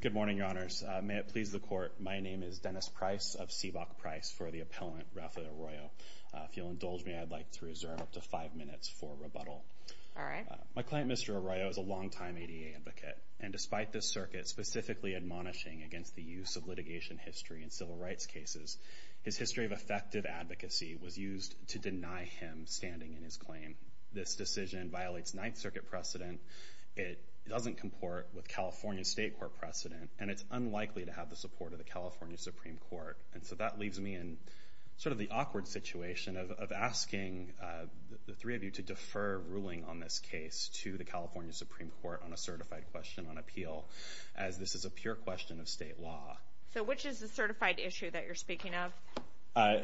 Good morning, Your Honors. May it please the Court, my name is Dennis Price of Seabock Price for the appellant, Ralph Arroyo. If you'll indulge me, I'd like to reserve up to five minutes for rebuttal. My client, Mr. Arroyo, is a longtime ADA advocate, and despite this circuit specifically admonishing against the use of litigation history in civil rights cases, his history of effective advocacy was used to deny him standing in his claim. This decision violates Ninth Circuit precedent, it doesn't comport with California State Court precedent, and it's unlikely to have the support of the California Supreme Court. And so that leaves me in sort of the awkward situation of asking the three of you to defer ruling on this case to the California Supreme Court on a certified question on appeal, as this is a pure question of state law. So which is the certified issue that you're speaking of?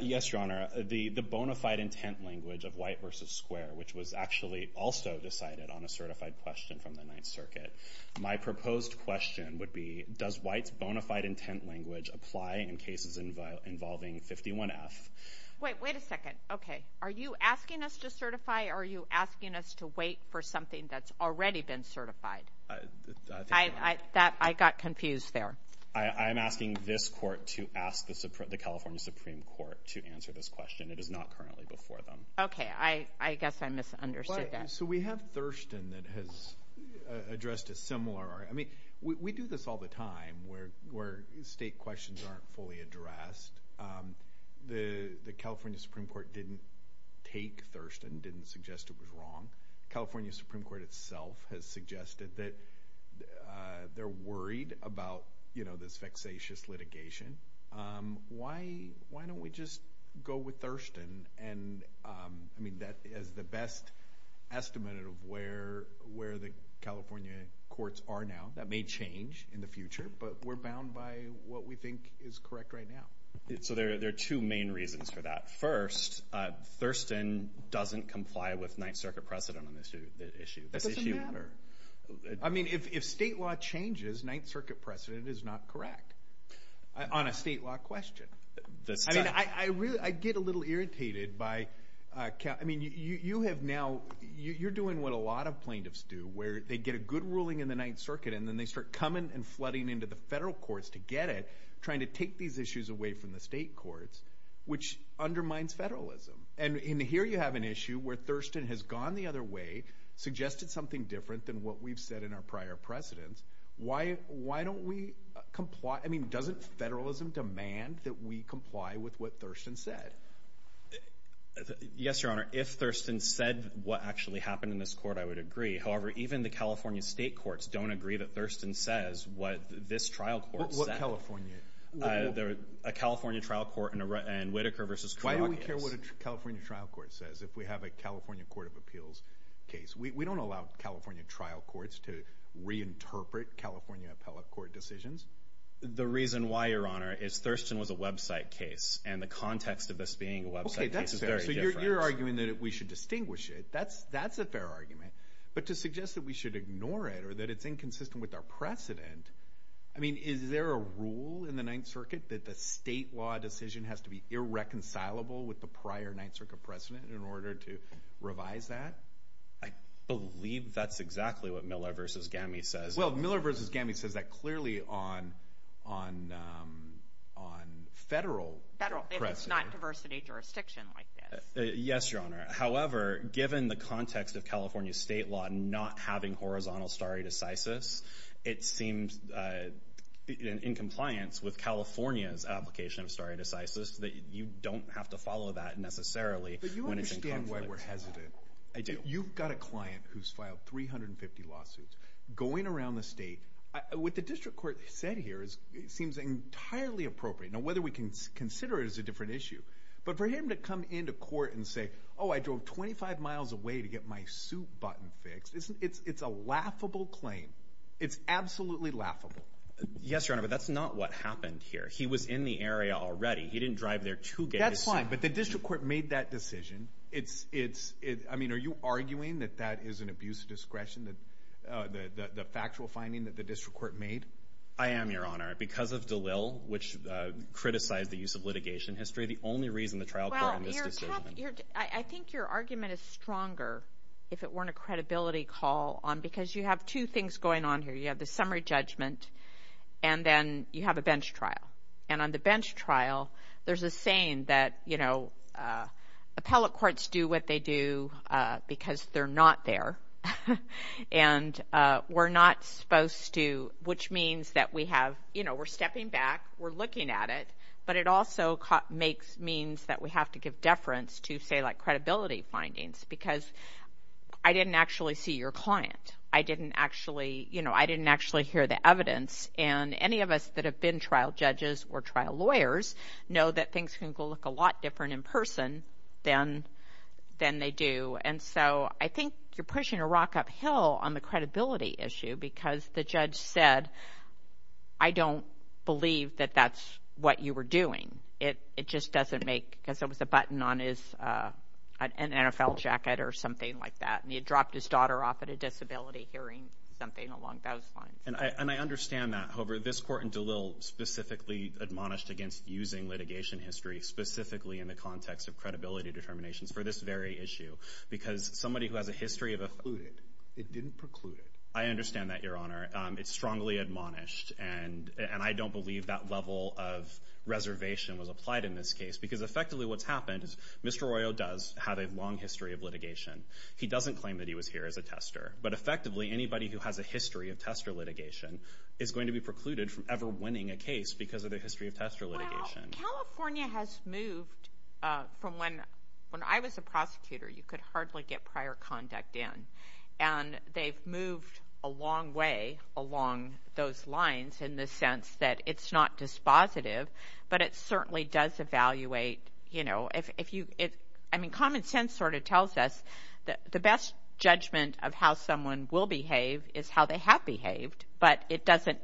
Yes, Your Honor. The bona fide intent language of White v. Square, which was actually also decided on a certified question from the Ninth Circuit. My proposed question would be, does White's bona fide intent language apply in cases involving 51F? Wait, wait a second. Okay. Are you asking us to certify, or are you asking us to wait for something that's already been certified? I got confused there. I'm asking this court to ask the California Supreme Court to answer this question. It is not currently before them. Okay. I guess I misunderstood that. So we have Thurston that has addressed a similar... I mean, we do this all the time, where state questions aren't fully addressed. The California Supreme Court didn't take Thurston, didn't suggest it was wrong. The California Supreme Court itself has suggested that they're worried about this vexatious litigation. Why don't we just go with Thurston? I mean, that is the best estimate of where the California courts are now. That may change in the future, but we're bound by what we think is correct right now. So there are two main reasons for that. First, Thurston doesn't comply with Ninth Circuit That doesn't matter. I mean, if state law changes, Ninth Circuit precedent is not correct on a state law question. I get a little irritated by... I mean, you're doing what a lot of plaintiffs do, where they get a good ruling in the Ninth Circuit, and then they start coming and flooding into the federal courts to get it, trying to take these issues away from the state courts, which undermines federalism. And here you have an issue where Thurston has gone the other way, suggested something different than what we've said in our prior precedents. Why don't we comply? I mean, doesn't federalism demand that we comply with what Thurston said? Yes, Your Honor. If Thurston said what actually happened in this court, I would agree. However, even the California state courts don't agree that Thurston says what this trial court said. What California? A California trial court and Whitaker v. Krokias. Why do we care what a California trial court says if we have a California Court of Appeals case? We don't allow California trial courts to reinterpret California appellate court decisions. The reason why, Your Honor, is Thurston was a website case, and the context of this being a website case is very different. Okay, that's fair. So you're arguing that we should distinguish it. That's a fair argument. But to suggest that we should ignore it, or that it's inconsistent with our precedent... I mean, is there a rule in the Ninth Circuit that the state law decision has to be irreconcilable with the prior Ninth Circuit precedent in order to revise that? I believe that's exactly what Miller v. Gamme says. Well, Miller v. Gamme says that clearly on federal precedent. Federal. It's not diversity jurisdiction like this. Yes, Your Honor. However, given the context of California state law not having horizontal stare decisis, it seems in compliance with California's application of stare decisis you don't have to follow that necessarily when it's in compliance. But you understand why we're hesitant. I do. You've got a client who's filed 350 lawsuits going around the state. What the district court said here seems entirely appropriate. Now, whether we can consider it as a different issue, but for him to come into court and say, oh, I drove 25 miles away to get my suit button fixed, it's a laughable claim. It's absolutely laughable. Yes, Your Honor, but that's not what happened here. He was in the area already. He didn't drive there to get his suit button fixed. That's fine, but the district court made that decision. I mean, are you arguing that that is an abuse of discretion, the factual finding that the district court made? I am, Your Honor, because of DeLille, which criticized the use of litigation history, the only reason the trial court made this decision. I think your argument is stronger if it weren't a credibility call, because you have two things going on here. You have the summary judgment, and then you have a bench trial. And on the other hand, there's a saying that, you know, appellate courts do what they do because they're not there. And we're not supposed to, which means that we have, you know, we're stepping back, we're looking at it, but it also makes means that we have to give deference to, say, like, credibility findings, because I didn't actually see your client. I didn't actually, you know, I didn't actually hear the evidence. And any of us that have been trial judges or judges, things can look a lot different in person than they do. And so I think you're pushing a rock uphill on the credibility issue, because the judge said, I don't believe that that's what you were doing. It just doesn't make, because there was a button on his NFL jacket or something like that, and he had dropped his daughter off at a disability hearing something along those lines. And I understand that. However, this court in DeLille specifically admonished against using litigation history specifically in the context of credibility determinations for this very issue, because somebody who has a history of a... It precluded. It didn't preclude it. I understand that, Your Honor. It's strongly admonished, and I don't believe that level of reservation was applied in this case, because effectively what's happened is Mr. Arroyo does have a long history of litigation. He doesn't claim that he was here as a tester, but effectively anybody who has a history of tester litigation is going to be precluded from ever winning a case because of their history of tester litigation. California has moved from when... When I was a prosecutor, you could hardly get prior conduct in, and they've moved a long way along those lines in the sense that it's not dispositive, but it certainly does evaluate, you know, if you... I mean, common sense sort of tells us that the best judgment of how someone will behave is how they have behaved, but it doesn't...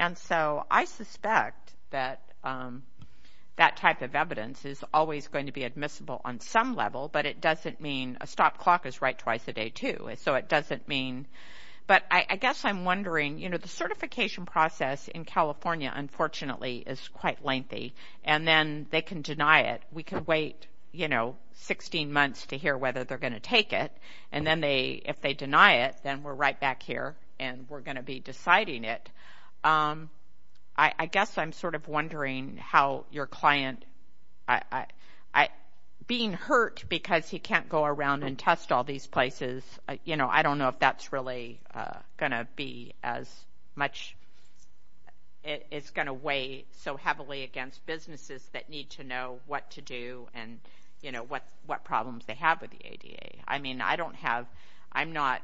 And so I suspect that that type of evidence is always going to be admissible on some level, but it doesn't mean... A stop clock is right twice a day, too, so it doesn't mean... But I guess I'm wondering, you know, the certification process in California, unfortunately, is quite lengthy, and then they can deny it. We can wait, you know, 16 months to hear whether they're going to take it, and then they... If they deny it, we're right back here, and we're going to be deciding it. I guess I'm sort of wondering how your client... Being hurt because he can't go around and test all these places, you know, I don't know if that's really going to be as much... It's going to weigh so heavily against businesses that need to know what to do and, you know, what problems they have with the ADA. I mean, I don't have... I'm not...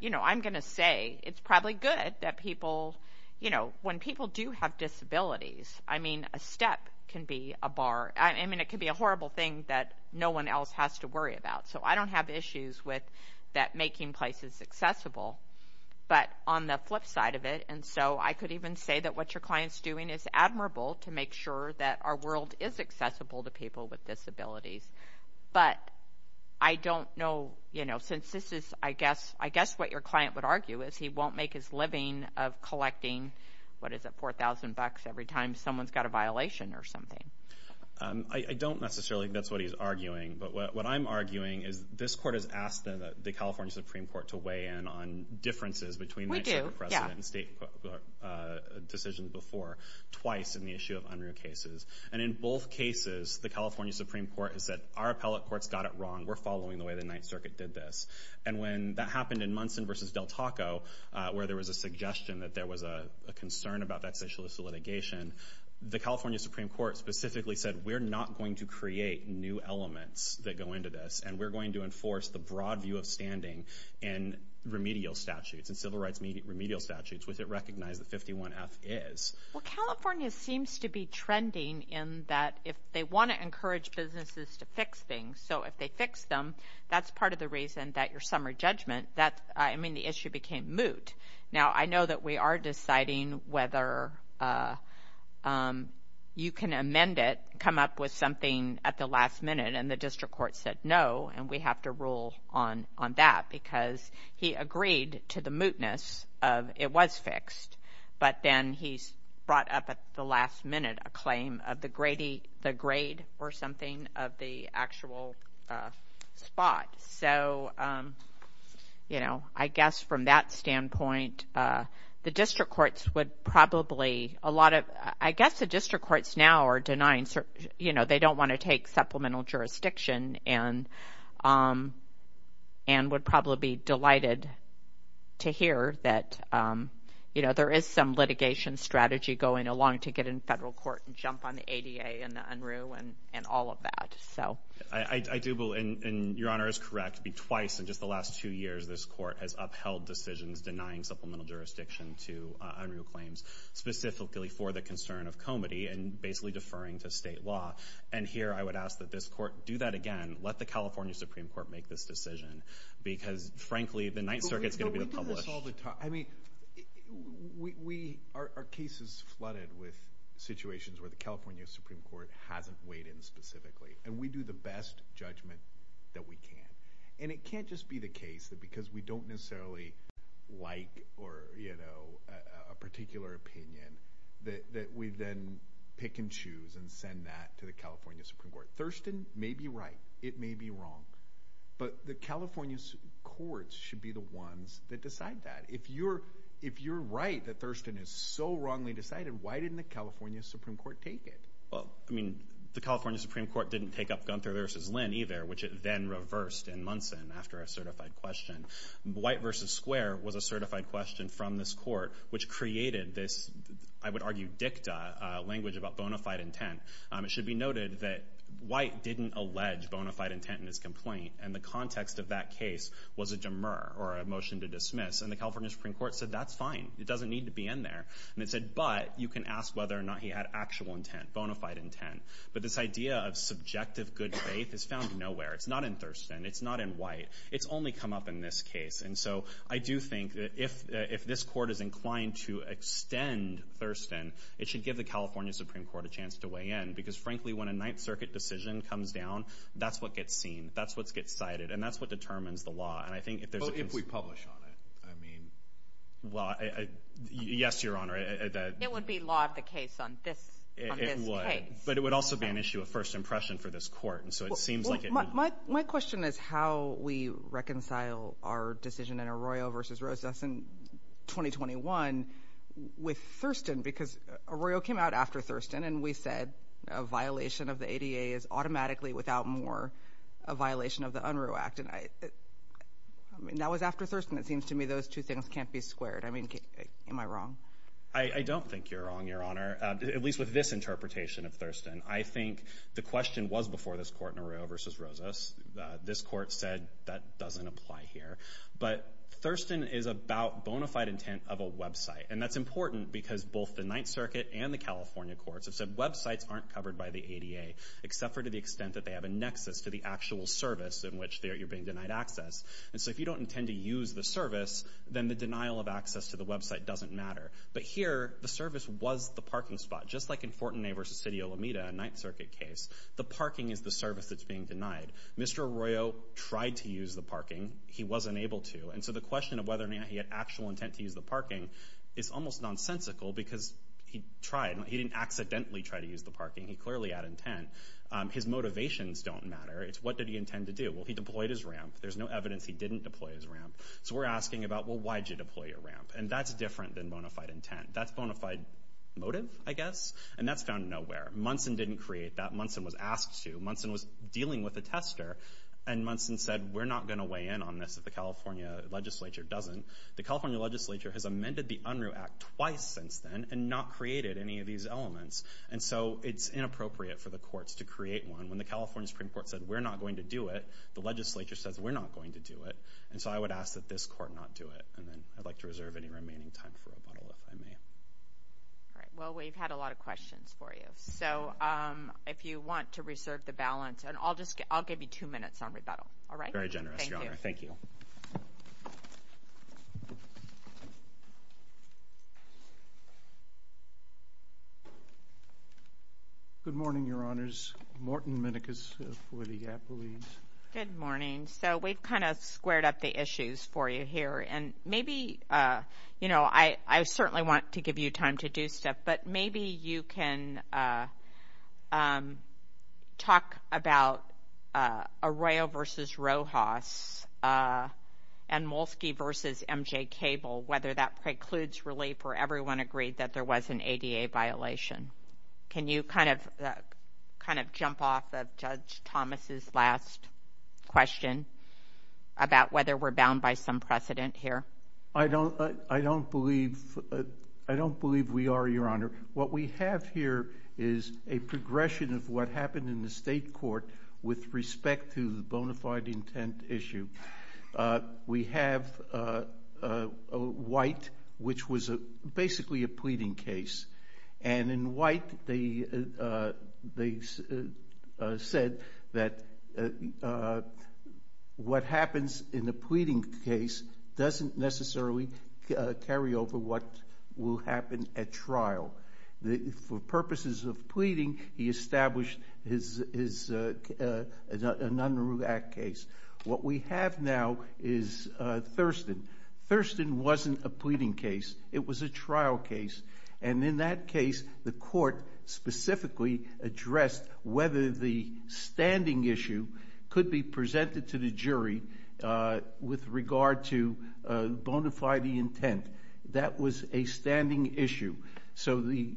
You know, I'm going to say it's probably good that people, you know, when people do have disabilities, I mean, a step can be a bar. I mean, it could be a horrible thing that no one else has to worry about, so I don't have issues with that making places accessible, but on the flip side of it, and so I could even say that what your client's doing is admirable to make sure that our world is accessible to people with disabilities, but I don't know, you know, since this is, I guess what your client would argue is he won't make his living of collecting, what is it, 4,000 bucks every time someone's got a violation or something. I don't necessarily think that's what he's arguing, but what I'm arguing is this court has asked the California Supreme Court to weigh in on differences between... We do, yeah. ...state decisions before, twice in the issue of unruh cases, and in both cases, the California Supreme Court has said, our appellate court's got it wrong. We're following the way the Ninth Circuit did this, and when that happened in Munson versus Del Taco, where there was a suggestion that there was a concern about that socialistic litigation, the California Supreme Court specifically said, we're not going to create new elements that go into this, and we're going to enforce the broad view of standing in remedial statutes, in civil rights remedial statutes, which it seems to be trending in that if they want to encourage businesses to fix things, so if they fix them, that's part of the reason that your summary judgment, I mean, the issue became moot. Now, I know that we are deciding whether you can amend it, come up with something at the last minute, and the district court said no, and we have to rule on that because he agreed to the last minute, a claim of the grade or something of the actual spot. So, you know, I guess from that standpoint, the district courts would probably, a lot of, I guess the district courts now are denying, you know, they don't want to take supplemental jurisdiction, and would probably be to get in federal court and jump on the ADA and the UNRU and all of that, so. I do believe, and your Honor is correct, twice in just the last two years, this court has upheld decisions denying supplemental jurisdiction to UNRU claims, specifically for the concern of comity and basically deferring to state law, and here I would ask that this court do that again, let the California Supreme Court make this decision, because frankly, the Ninth Circuit's going to be the publicist. No, we do this all the time. I mean, our case is flooded with situations where the California Supreme Court hasn't weighed in specifically, and we do the best judgment that we can, and it can't just be the case that because we don't necessarily like or, you know, a particular opinion, that we then pick and choose and send that to the California Supreme Court. Thurston may be right, it may be wrong, but the California courts should be the ones that decide that. If you're right that Thurston is so wrongly decided, why didn't the California Supreme Court take it? Well, I mean, the California Supreme Court didn't take up Gunther v. Lynn either, which it then reversed in Munson after a certified question. White v. Square was a certified question from this court, which created this, I would argue, dicta, language about bona fide intent. It should be noted that White didn't allege bona fide intent in his complaint, and the context of that case was a demur or a motion to dismiss. And the California Supreme Court said, that's fine, it doesn't need to be in there. And it said, but you can ask whether or not he had actual intent, bona fide intent. But this idea of subjective good faith is found nowhere. It's not in Thurston. It's not in White. It's only come up in this case. And so I do think that if this court is inclined to extend Thurston, it should give the California Supreme Court a chance to weigh in. Because frankly, when a that's what gets seen. That's what gets cited. And that's what determines the law. Well, if we publish on it, I mean. Well, yes, Your Honor. It would be law of the case on this case. It would. But it would also be an issue of first impression for this court. And so it seems like it would. My question is how we reconcile our decision in Arroyo v. Rosas in 2021 with Thurston. Because Arroyo came out after Thurston and we said a violation of the ADA is automatically without more a violation of the Unruh Act. And I mean, that was after Thurston. It seems to me those two things can't be squared. I mean, am I wrong? I don't think you're wrong, Your Honor, at least with this interpretation of Thurston. I think the question was before this court in Arroyo v. Rosas. This court said that doesn't apply here. But Thurston is about bona fide intent of a website. And that's important because both the Ninth Circuit and the California courts have said websites aren't covered by the ADA, except for to the extent that they have a nexus to the actual service in which you're being denied access. And so if you don't intend to use the service, then the denial of access to the website doesn't matter. But here, the service was the parking spot, just like in Fortenay v. City of La Mida, a Ninth Circuit case. The parking is the service that's being denied. Mr. Arroyo tried to use the parking. He wasn't able to. And so the question of whether or not he had actual intent to use the parking is almost nonsensical because he tried. He didn't accidentally try to use the parking. He clearly had intent. His motivations don't matter. It's what did he intend to do. Well, he deployed his ramp. There's no evidence he didn't deploy his ramp. So we're asking about, well, why did you deploy your ramp? And that's different than bona fide intent. That's bona fide motive, I guess. And that's found nowhere. Munson didn't create that. Munson was asked to. Munson was dealing with a tester. And Munson said, we're not going to weigh in on this if the California legislature has amended the Unruh Act twice since then and not created any of these elements. And so it's inappropriate for the courts to create one when the California Supreme Court said, we're not going to do it. The legislature says, we're not going to do it. And so I would ask that this court not do it. And then I'd like to reserve any remaining time for rebuttal, if I may. All right. Well, we've had a lot of questions for you. So if you want to reserve the balance, and I'll just I'll give you two minutes on rebuttal. All right. Very generous. Thank you. Good morning, Your Honors. Morton Minicus for the Appellees. Good morning. So we've kind of squared up the issues for you here. And maybe, you know, I certainly want to give you time to do stuff. But maybe you can talk about Arroyo versus Rojas and Molsky versus MJ Cable, whether that precludes relief or everyone agreed that there was an ADA violation. Can you kind of jump off of Judge Thomas's last question about whether we're bound by some precedent here? I don't believe we are, Your Honor. What we have here is a progression of what happened in the state court with respect to the bona fide intent issue. We have White, which was basically a pleading case. And in White, they said that what happens in a pleading case doesn't necessarily carry over what will happen at trial. For purposes of pleading, he established his Nunroo Act case. What we have now is Thurston. Thurston wasn't a pleading case. It was a trial case. And in that case, the court specifically addressed whether the standing issue could be presented to the jury with regard to bona fide intent. That was a standing issue. So the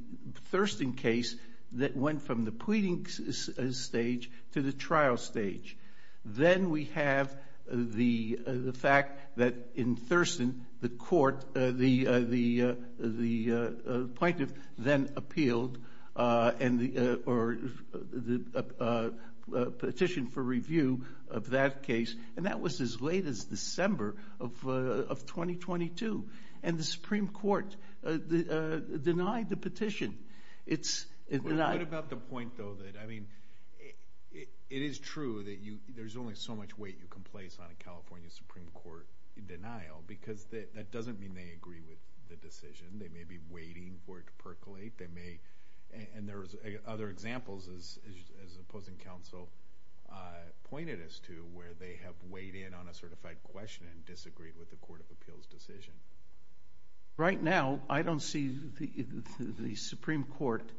Thurston case, that went from the pleading stage to the trial stage. Then we have the fact that in Thurston, the court, the plaintiff then appealed and the petition for review of that case. And that was as late as December of 2022. And the Supreme Court denied the petition. What about the point though that, I mean, it is true that there's only so much weight you can place on a California Supreme Court denial because that doesn't mean they agree with the decision. They may be waiting for it to percolate. And there's other examples, as the opposing counsel pointed us to, where they have weighed in on a certified question and disagreed with the court of appeals decision. Right now, I don't see the Supreme Court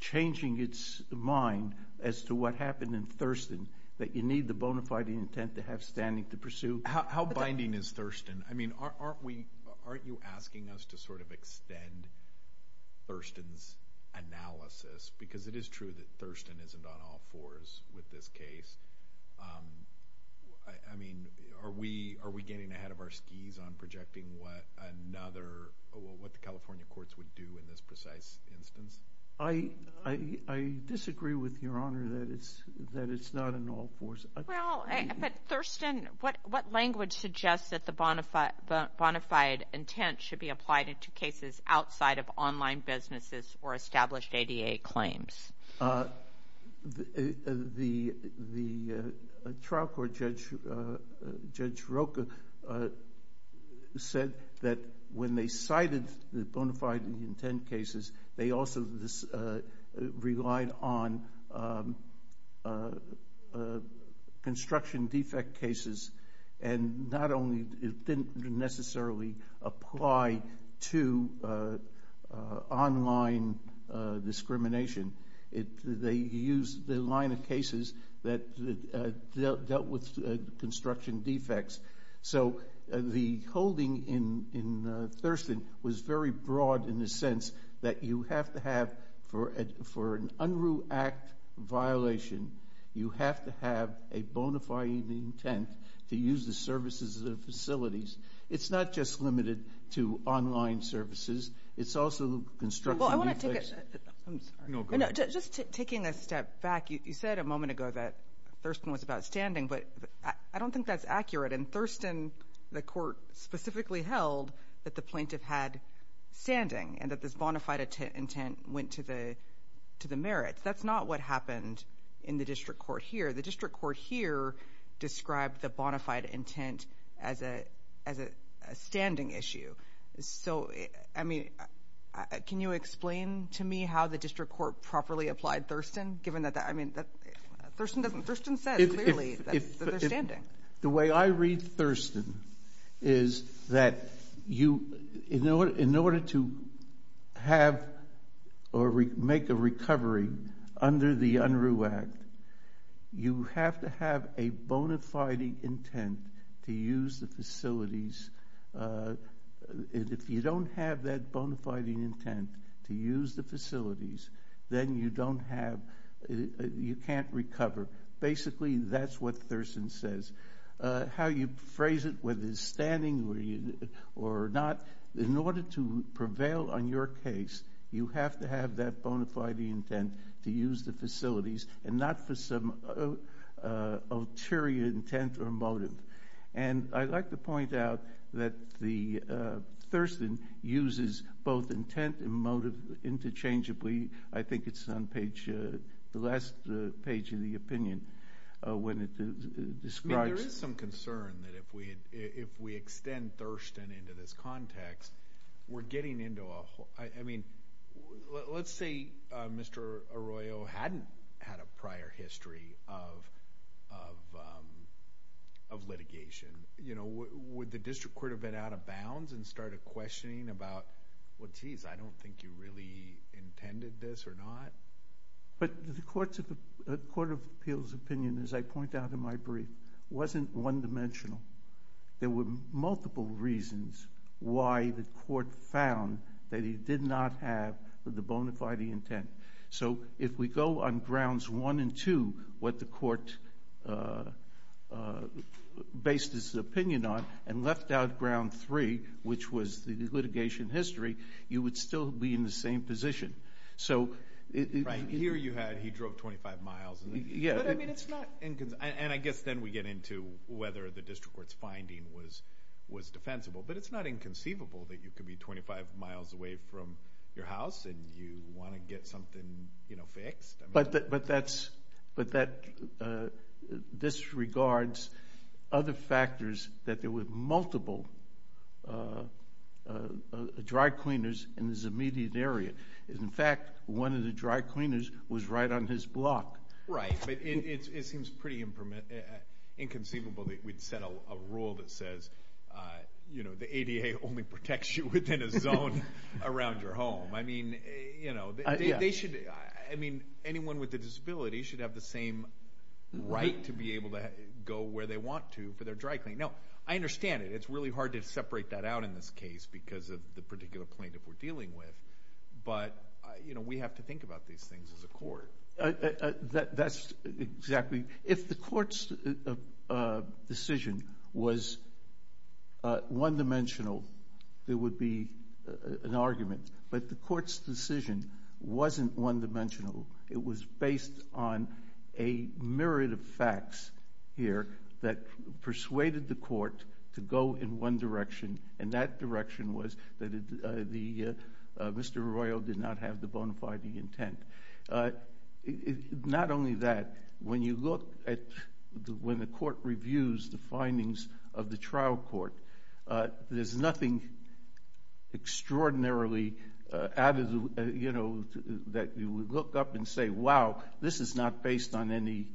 changing its mind as to what happened in Thurston, that you need the bona fide intent to have standing to pursue. How binding is Thurston? I mean, aren't you asking us to sort of extend Thurston's analysis? Because it is true that Thurston isn't on all fours with this case. I mean, are we getting ahead of our skis on projecting what another, what the California courts would do in this precise instance? I disagree with your honor that it's not an all four. The language suggests that the bona fide intent should be applied into cases outside of online businesses or established ADA claims. The trial court judge, Judge Rocha, said that when they cited the bona fide intent cases, they also relied on the construction defect cases. And not only, it didn't necessarily apply to online discrimination. They used the line of cases that dealt with construction defects. So the holding in Thurston was very broad in the sense that you have to have, for an Unruh Act violation, you have to have a bona fide intent to use the services of the facilities. It's not just limited to online services. It's also construction defects. I'm sorry. No, go ahead. Just taking a step back, you said a moment ago that Thurston was about standing, but I don't think that's accurate. And Thurston, the court specifically held that the plaintiff had standing and that this bona fide intent went to the merits. That's not what happened in the district court here. The district court here described the bona fide intent as a standing issue. So, I mean, can you explain to me how the district court properly applied Thurston, given that Thurston said clearly that they're standing? The way I read Thurston is that in order to have or make a recovery under the Unruh Act, you have to have a bona fide intent to use the facilities. If you don't have that bona fide intent to use the facilities, then you don't have, you can't recover. Basically, that's what Thurston says. How you phrase it, whether it's standing or not, in order to prevail on your case, you have to have that bona fide intent to use the facilities and not for some ulterior intent or motive. And I'd like to point out that Thurston uses both intent and motive interchangeably. I think it's on page, the last page of the opinion when it describes... There is some concern that if we extend Thurston into this context, we're getting into a whole, I mean, let's say Mr. Arroyo hadn't had a prior history of litigation. You know, would the district court have been out of bounds and started questioning about, well, geez, I don't think you really intended this or not. But the Court of Appeals opinion, as I point out in my brief, wasn't one dimensional. There were multiple reasons why the court found that he did not have the bona fide intent. So if we go on grounds one and two, what the court based his opinion on and left out ground three, which was the litigation history, you would still be in the same position. Right. Here you had he drove 25 miles. And I guess then we get into whether the district court's finding was defensible. But it's not inconceivable that you could be 25 miles away from your house and you want to get something fixed. But this regards other factors that there multiple dry cleaners in this immediate area. In fact, one of the dry cleaners was right on his block. Right. But it seems pretty inconceivable that we'd set a rule that says, you know, the ADA only protects you within a zone around your home. I mean, you know, they should, I mean, anyone with a disability should have the same right to be able to go where they want to for dry cleaning. Now, I understand it. It's really hard to separate that out in this case because of the particular plaintiff we're dealing with. But, you know, we have to think about these things as a court. That's exactly. If the court's decision was one-dimensional, there would be an argument. But the court's decision wasn't one-dimensional. It was based on a myriad of facts here that persuaded the court to go in one direction, and that direction was that Mr. Arroyo did not have the bona fide intent. Not only that, when you look at, when the court reviews the findings of the trial court, there's nothing extraordinarily, you know, that you would look up and say, wow, this is not based on any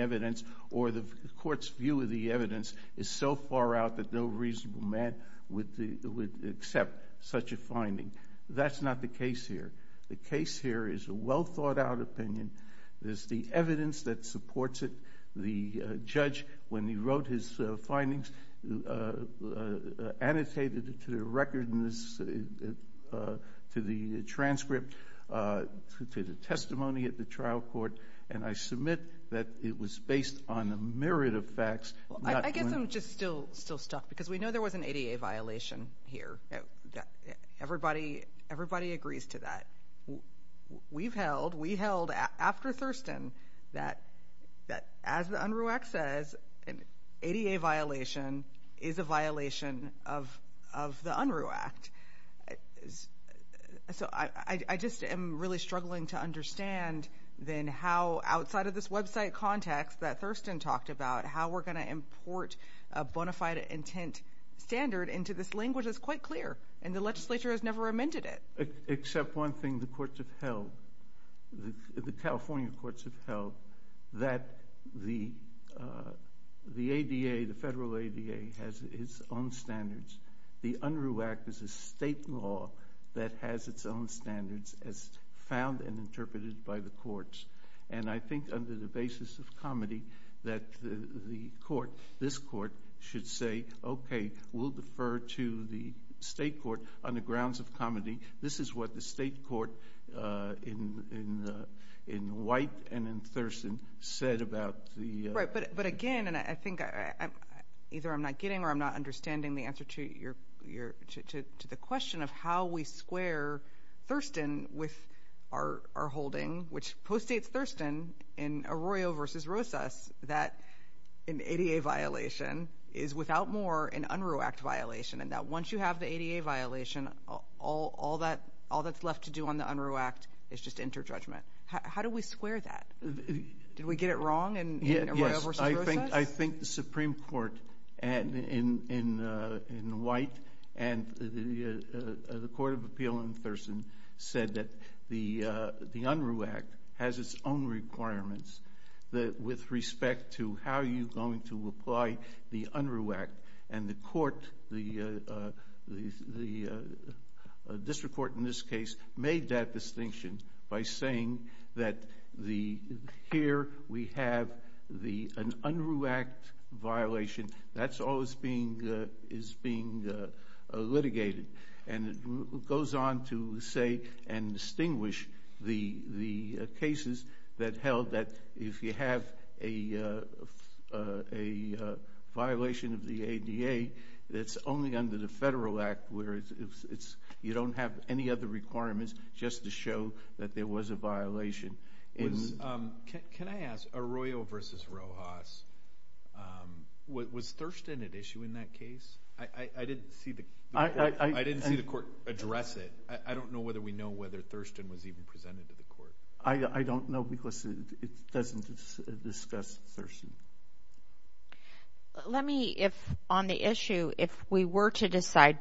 evidence, or the court's view of the evidence is so far out that no reasonable man would accept such a finding. That's not the case here. The case here is a well-thought-out opinion. There's the evidence that supports it. The judge, when he wrote his findings, annotated it to the transcript, to the testimony at the trial court, and I submit that it was based on a myriad of facts. I guess I'm just still stuck, because we know there was an ADA violation here. Everybody agrees to that. We've held, we held after Thurston, that as the UNRU Act says, an ADA violation is a violation of the ADA. So I just am really struggling to understand then how, outside of this website context that Thurston talked about, how we're going to import a bona fide intent standard into this language is quite clear, and the legislature has never amended it. Except one thing the courts have held, the California courts have held, that the ADA, the federal ADA, has its own standards. The UNRU Act is a state law that has its own standards as found and interpreted by the courts, and I think under the basis of comedy that the court, this court, should say, okay, we'll defer to the state court on the grounds of comedy. This is what the state court in White and in Thurston said about the... Right, but again, and I think either I'm not getting or I'm not understanding the answer to the question of how we square Thurston with our holding, which postdates Thurston in Arroyo v. Rosas, that an ADA violation is without more an UNRU Act violation, and that once you have the ADA violation, all that's left to do on the UNRU Act is just enter judgment. How do we square that? Did we get it wrong in Arroyo v. Rosas? Yes, I think the Supreme Court in White and the Court of Appeal in Thurston said that the UNRU Act has its own requirements with respect to how you're going to apply the UNRU Act, and the court, the district court in by saying that here we have an UNRU Act violation. That's always being litigated, and it goes on to say and distinguish the cases that held that if you have a violation of the ADA, it's only under the federal act, where you don't have any other requirements, just to show that there was a violation. Can I ask, Arroyo v. Rosas, was Thurston at issue in that case? I didn't see the court address it. I don't know whether we know whether Thurston was even presented to the court. I don't know because it doesn't discuss Thurston. Let me, if on the issue, if we were to decide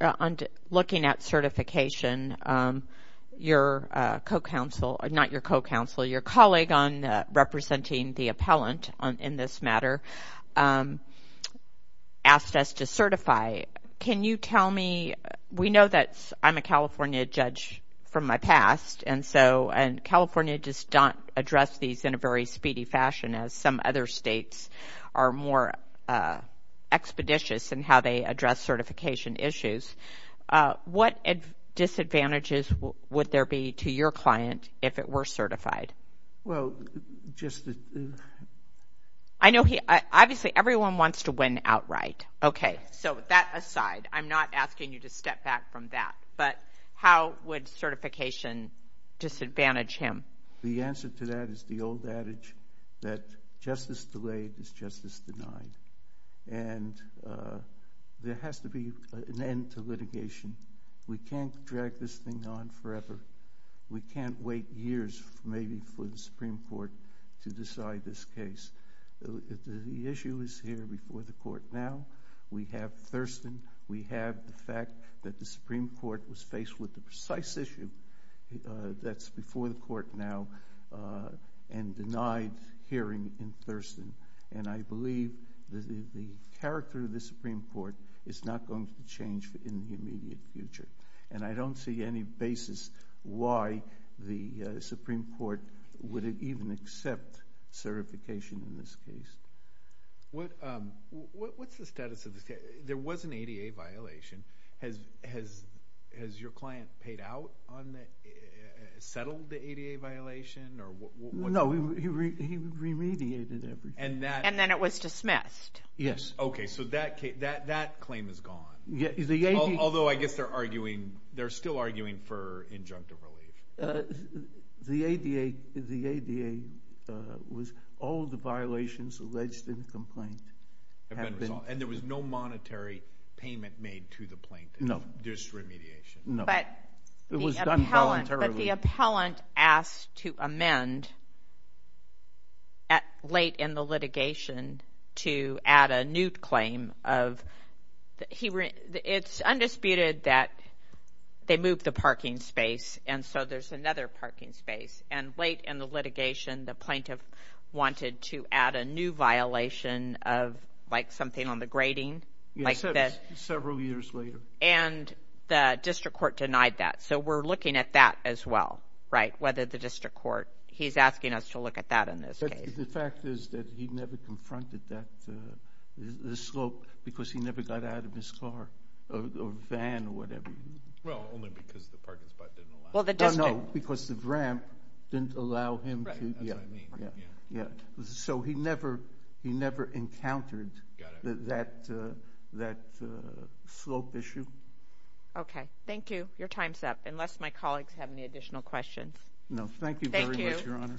on looking at certification, your co-counsel, not your co-counsel, your colleague on representing the appellant in this matter, asked us to certify. Can you tell me, we know that I'm a California judge from my past, and California does not address these in a very speedy fashion, as some other states are more expeditious in how they address certification issues. What disadvantages would there be to your client if it were certified? Obviously, everyone wants to win outright. Okay, so that aside, I'm not asking you to step back from that, but how would certification disadvantage him? The answer to that is the old adage that justice delayed is justice denied. There has to be an end to litigation. We can't drag this thing on forever. We can't wait years, maybe, for the Supreme Court to decide this case. The issue is here before the court now. We have Thurston. We have the fact that the Supreme Court was faced with the precise issue that's before the court now and denied hearing in Thurston, and I believe the character of the Supreme Court is not going to change in the immediate future, and I don't see any basis why the Supreme Court would even accept certification in this case. What's the status of this case? There was an ADA violation. Has your client paid out, settled the ADA violation? No, he remediated everything. And then it was dismissed. Yes. So that claim is gone, although I guess they're still arguing for injunctive relief. The ADA was all the violations alleged in the complaint have been resolved. And there was no monetary payment made to the plaintiff, just remediation. No, it was done voluntarily. But the appellant asked to amend at late in the litigation to add a new claim of, it's undisputed that they moved the parking space, and so there's another parking space. And late in the litigation, the plaintiff wanted to add a new violation of like something on the grading, like this. Several years later. And the district court denied that. So we're looking at that as well, whether the district court, he's asking us to look at that in this case. The fact is that he never confronted the slope because he never got out of his car or van or whatever. Well, only because the parking spot didn't allow him. Well, the district. No, because the ramp didn't allow him. So he never encountered that slope issue. Okay. Thank you. Your time's up. Unless my questions. No, thank you very much, Your Honor.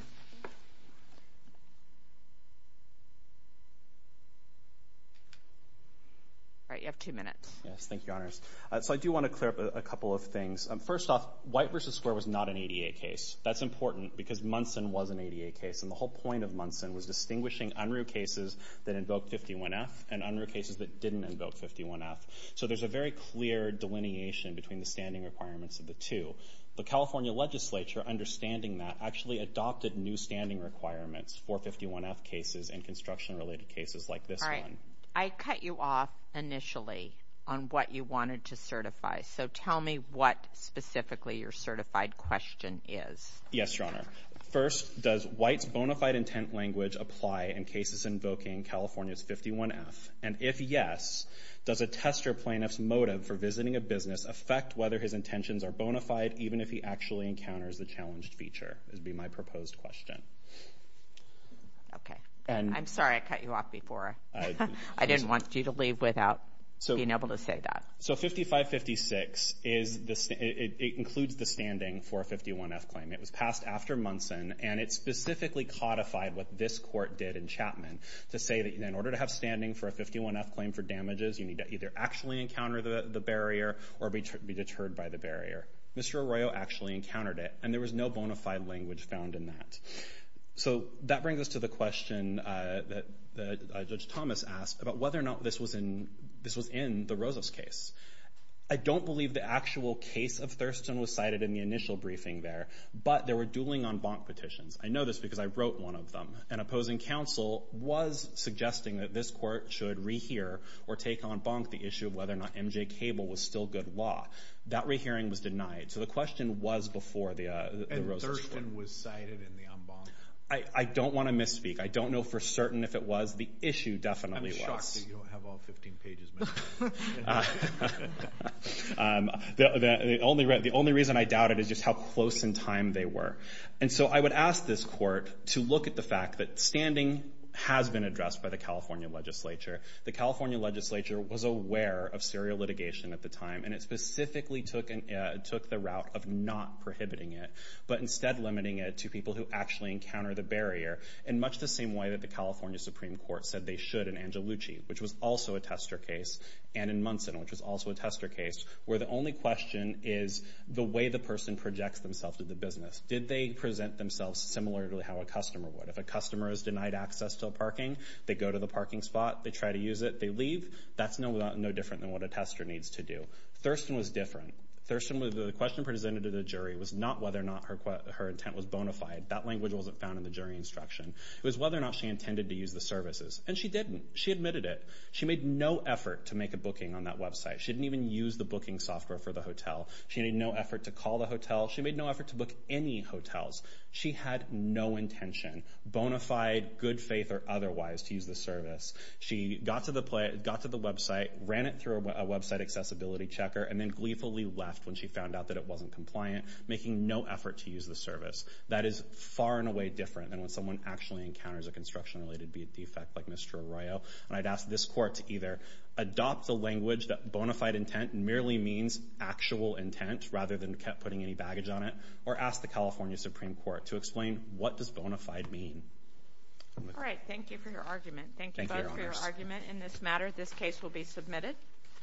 All right, you have two minutes. Yes, thank you, Your Honors. So I do want to clear up a couple of things. First off, White v. Square was not an ADA case. That's important because Munson was an ADA case. And the whole point of Munson was distinguishing unruh cases that invoked 51F and unruh cases that didn't invoke 51F. So there's a very clear delineation between the standing requirements of the two. The California legislature, understanding that, actually adopted new standing requirements for 51F cases and construction-related cases like this one. All right. I cut you off initially on what you wanted to certify. So tell me what specifically your certified question is. Yes, Your Honor. First, does White's bona fide intent language apply in cases invoking California's 51F? And if yes, does a tester plaintiff's motive for visiting a business affect whether his intentions are bona fide, even if he actually encounters the challenged feature, would be my proposed question. Okay. I'm sorry I cut you off before. I didn't want you to leave without being able to say that. So 5556, it includes the standing for a 51F claim. It was passed after Munson, and it specifically codified what this court did in Chapman, to say that in order to have standing for a 51F claim for damages, you need to either actually encounter the barrier or be deterred by the barrier. Mr. Arroyo actually encountered it, and there was no bona fide language found in that. So that brings us to the question that Judge Thomas asked about whether or not this was in the Rosev's case. I don't believe the actual case of Thurston was cited in the initial briefing there, but there were dueling en banc petitions. I know this because I wrote one of them. An opposing counsel was suggesting that this court should rehear or take en banc the issue of whether or not MJ Cable was still good law. That rehearing was denied. So the question was before the Rosev's case. And Thurston was cited in the en banc? I don't want to misspeak. I don't know for certain if it was. The issue definitely was. I'm shocked that you don't have all 15 pages. The only reason I doubt it is just how close in time they were. And so I would ask this court to look at the fact that standing has been addressed by the California Legislature. The California Legislature was aware of serial litigation at the time, and it specifically took the route of not prohibiting it, but instead limiting it to people who actually encounter the barrier in much the same way that the California Supreme Court said they should in Angelucci, which was also a tester case, and in Munson, which was also a tester case, where the only question is the way the person projects themselves to the business. Did they present themselves similarly to how a customer would? If a customer is denied access to a parking, they go to the parking lot, they try to use it, they leave. That's no different than what a tester needs to do. Thurston was different. Thurston, the question presented to the jury was not whether or not her intent was bona fide. That language wasn't found in the jury instruction. It was whether or not she intended to use the services, and she didn't. She admitted it. She made no effort to make a booking on that website. She didn't even use the booking software for the hotel. She made no effort to call the hotel. She made no effort to book any hotels. She had no intention, bona fide, good faith, or otherwise, to use the service. She got to the website, ran it through a website accessibility checker, and then gleefully left when she found out that it wasn't compliant, making no effort to use the service. That is far and away different than when someone actually encounters a construction-related defect like Mr. Arroyo, and I'd ask this court to either adopt the language that bona fide intent merely means actual intent, rather than putting any baggage on it, or ask the California Supreme Court to explain what does bona fide mean. All right, thank you for your argument. Thank you both for your argument in this matter. This case will be submitted.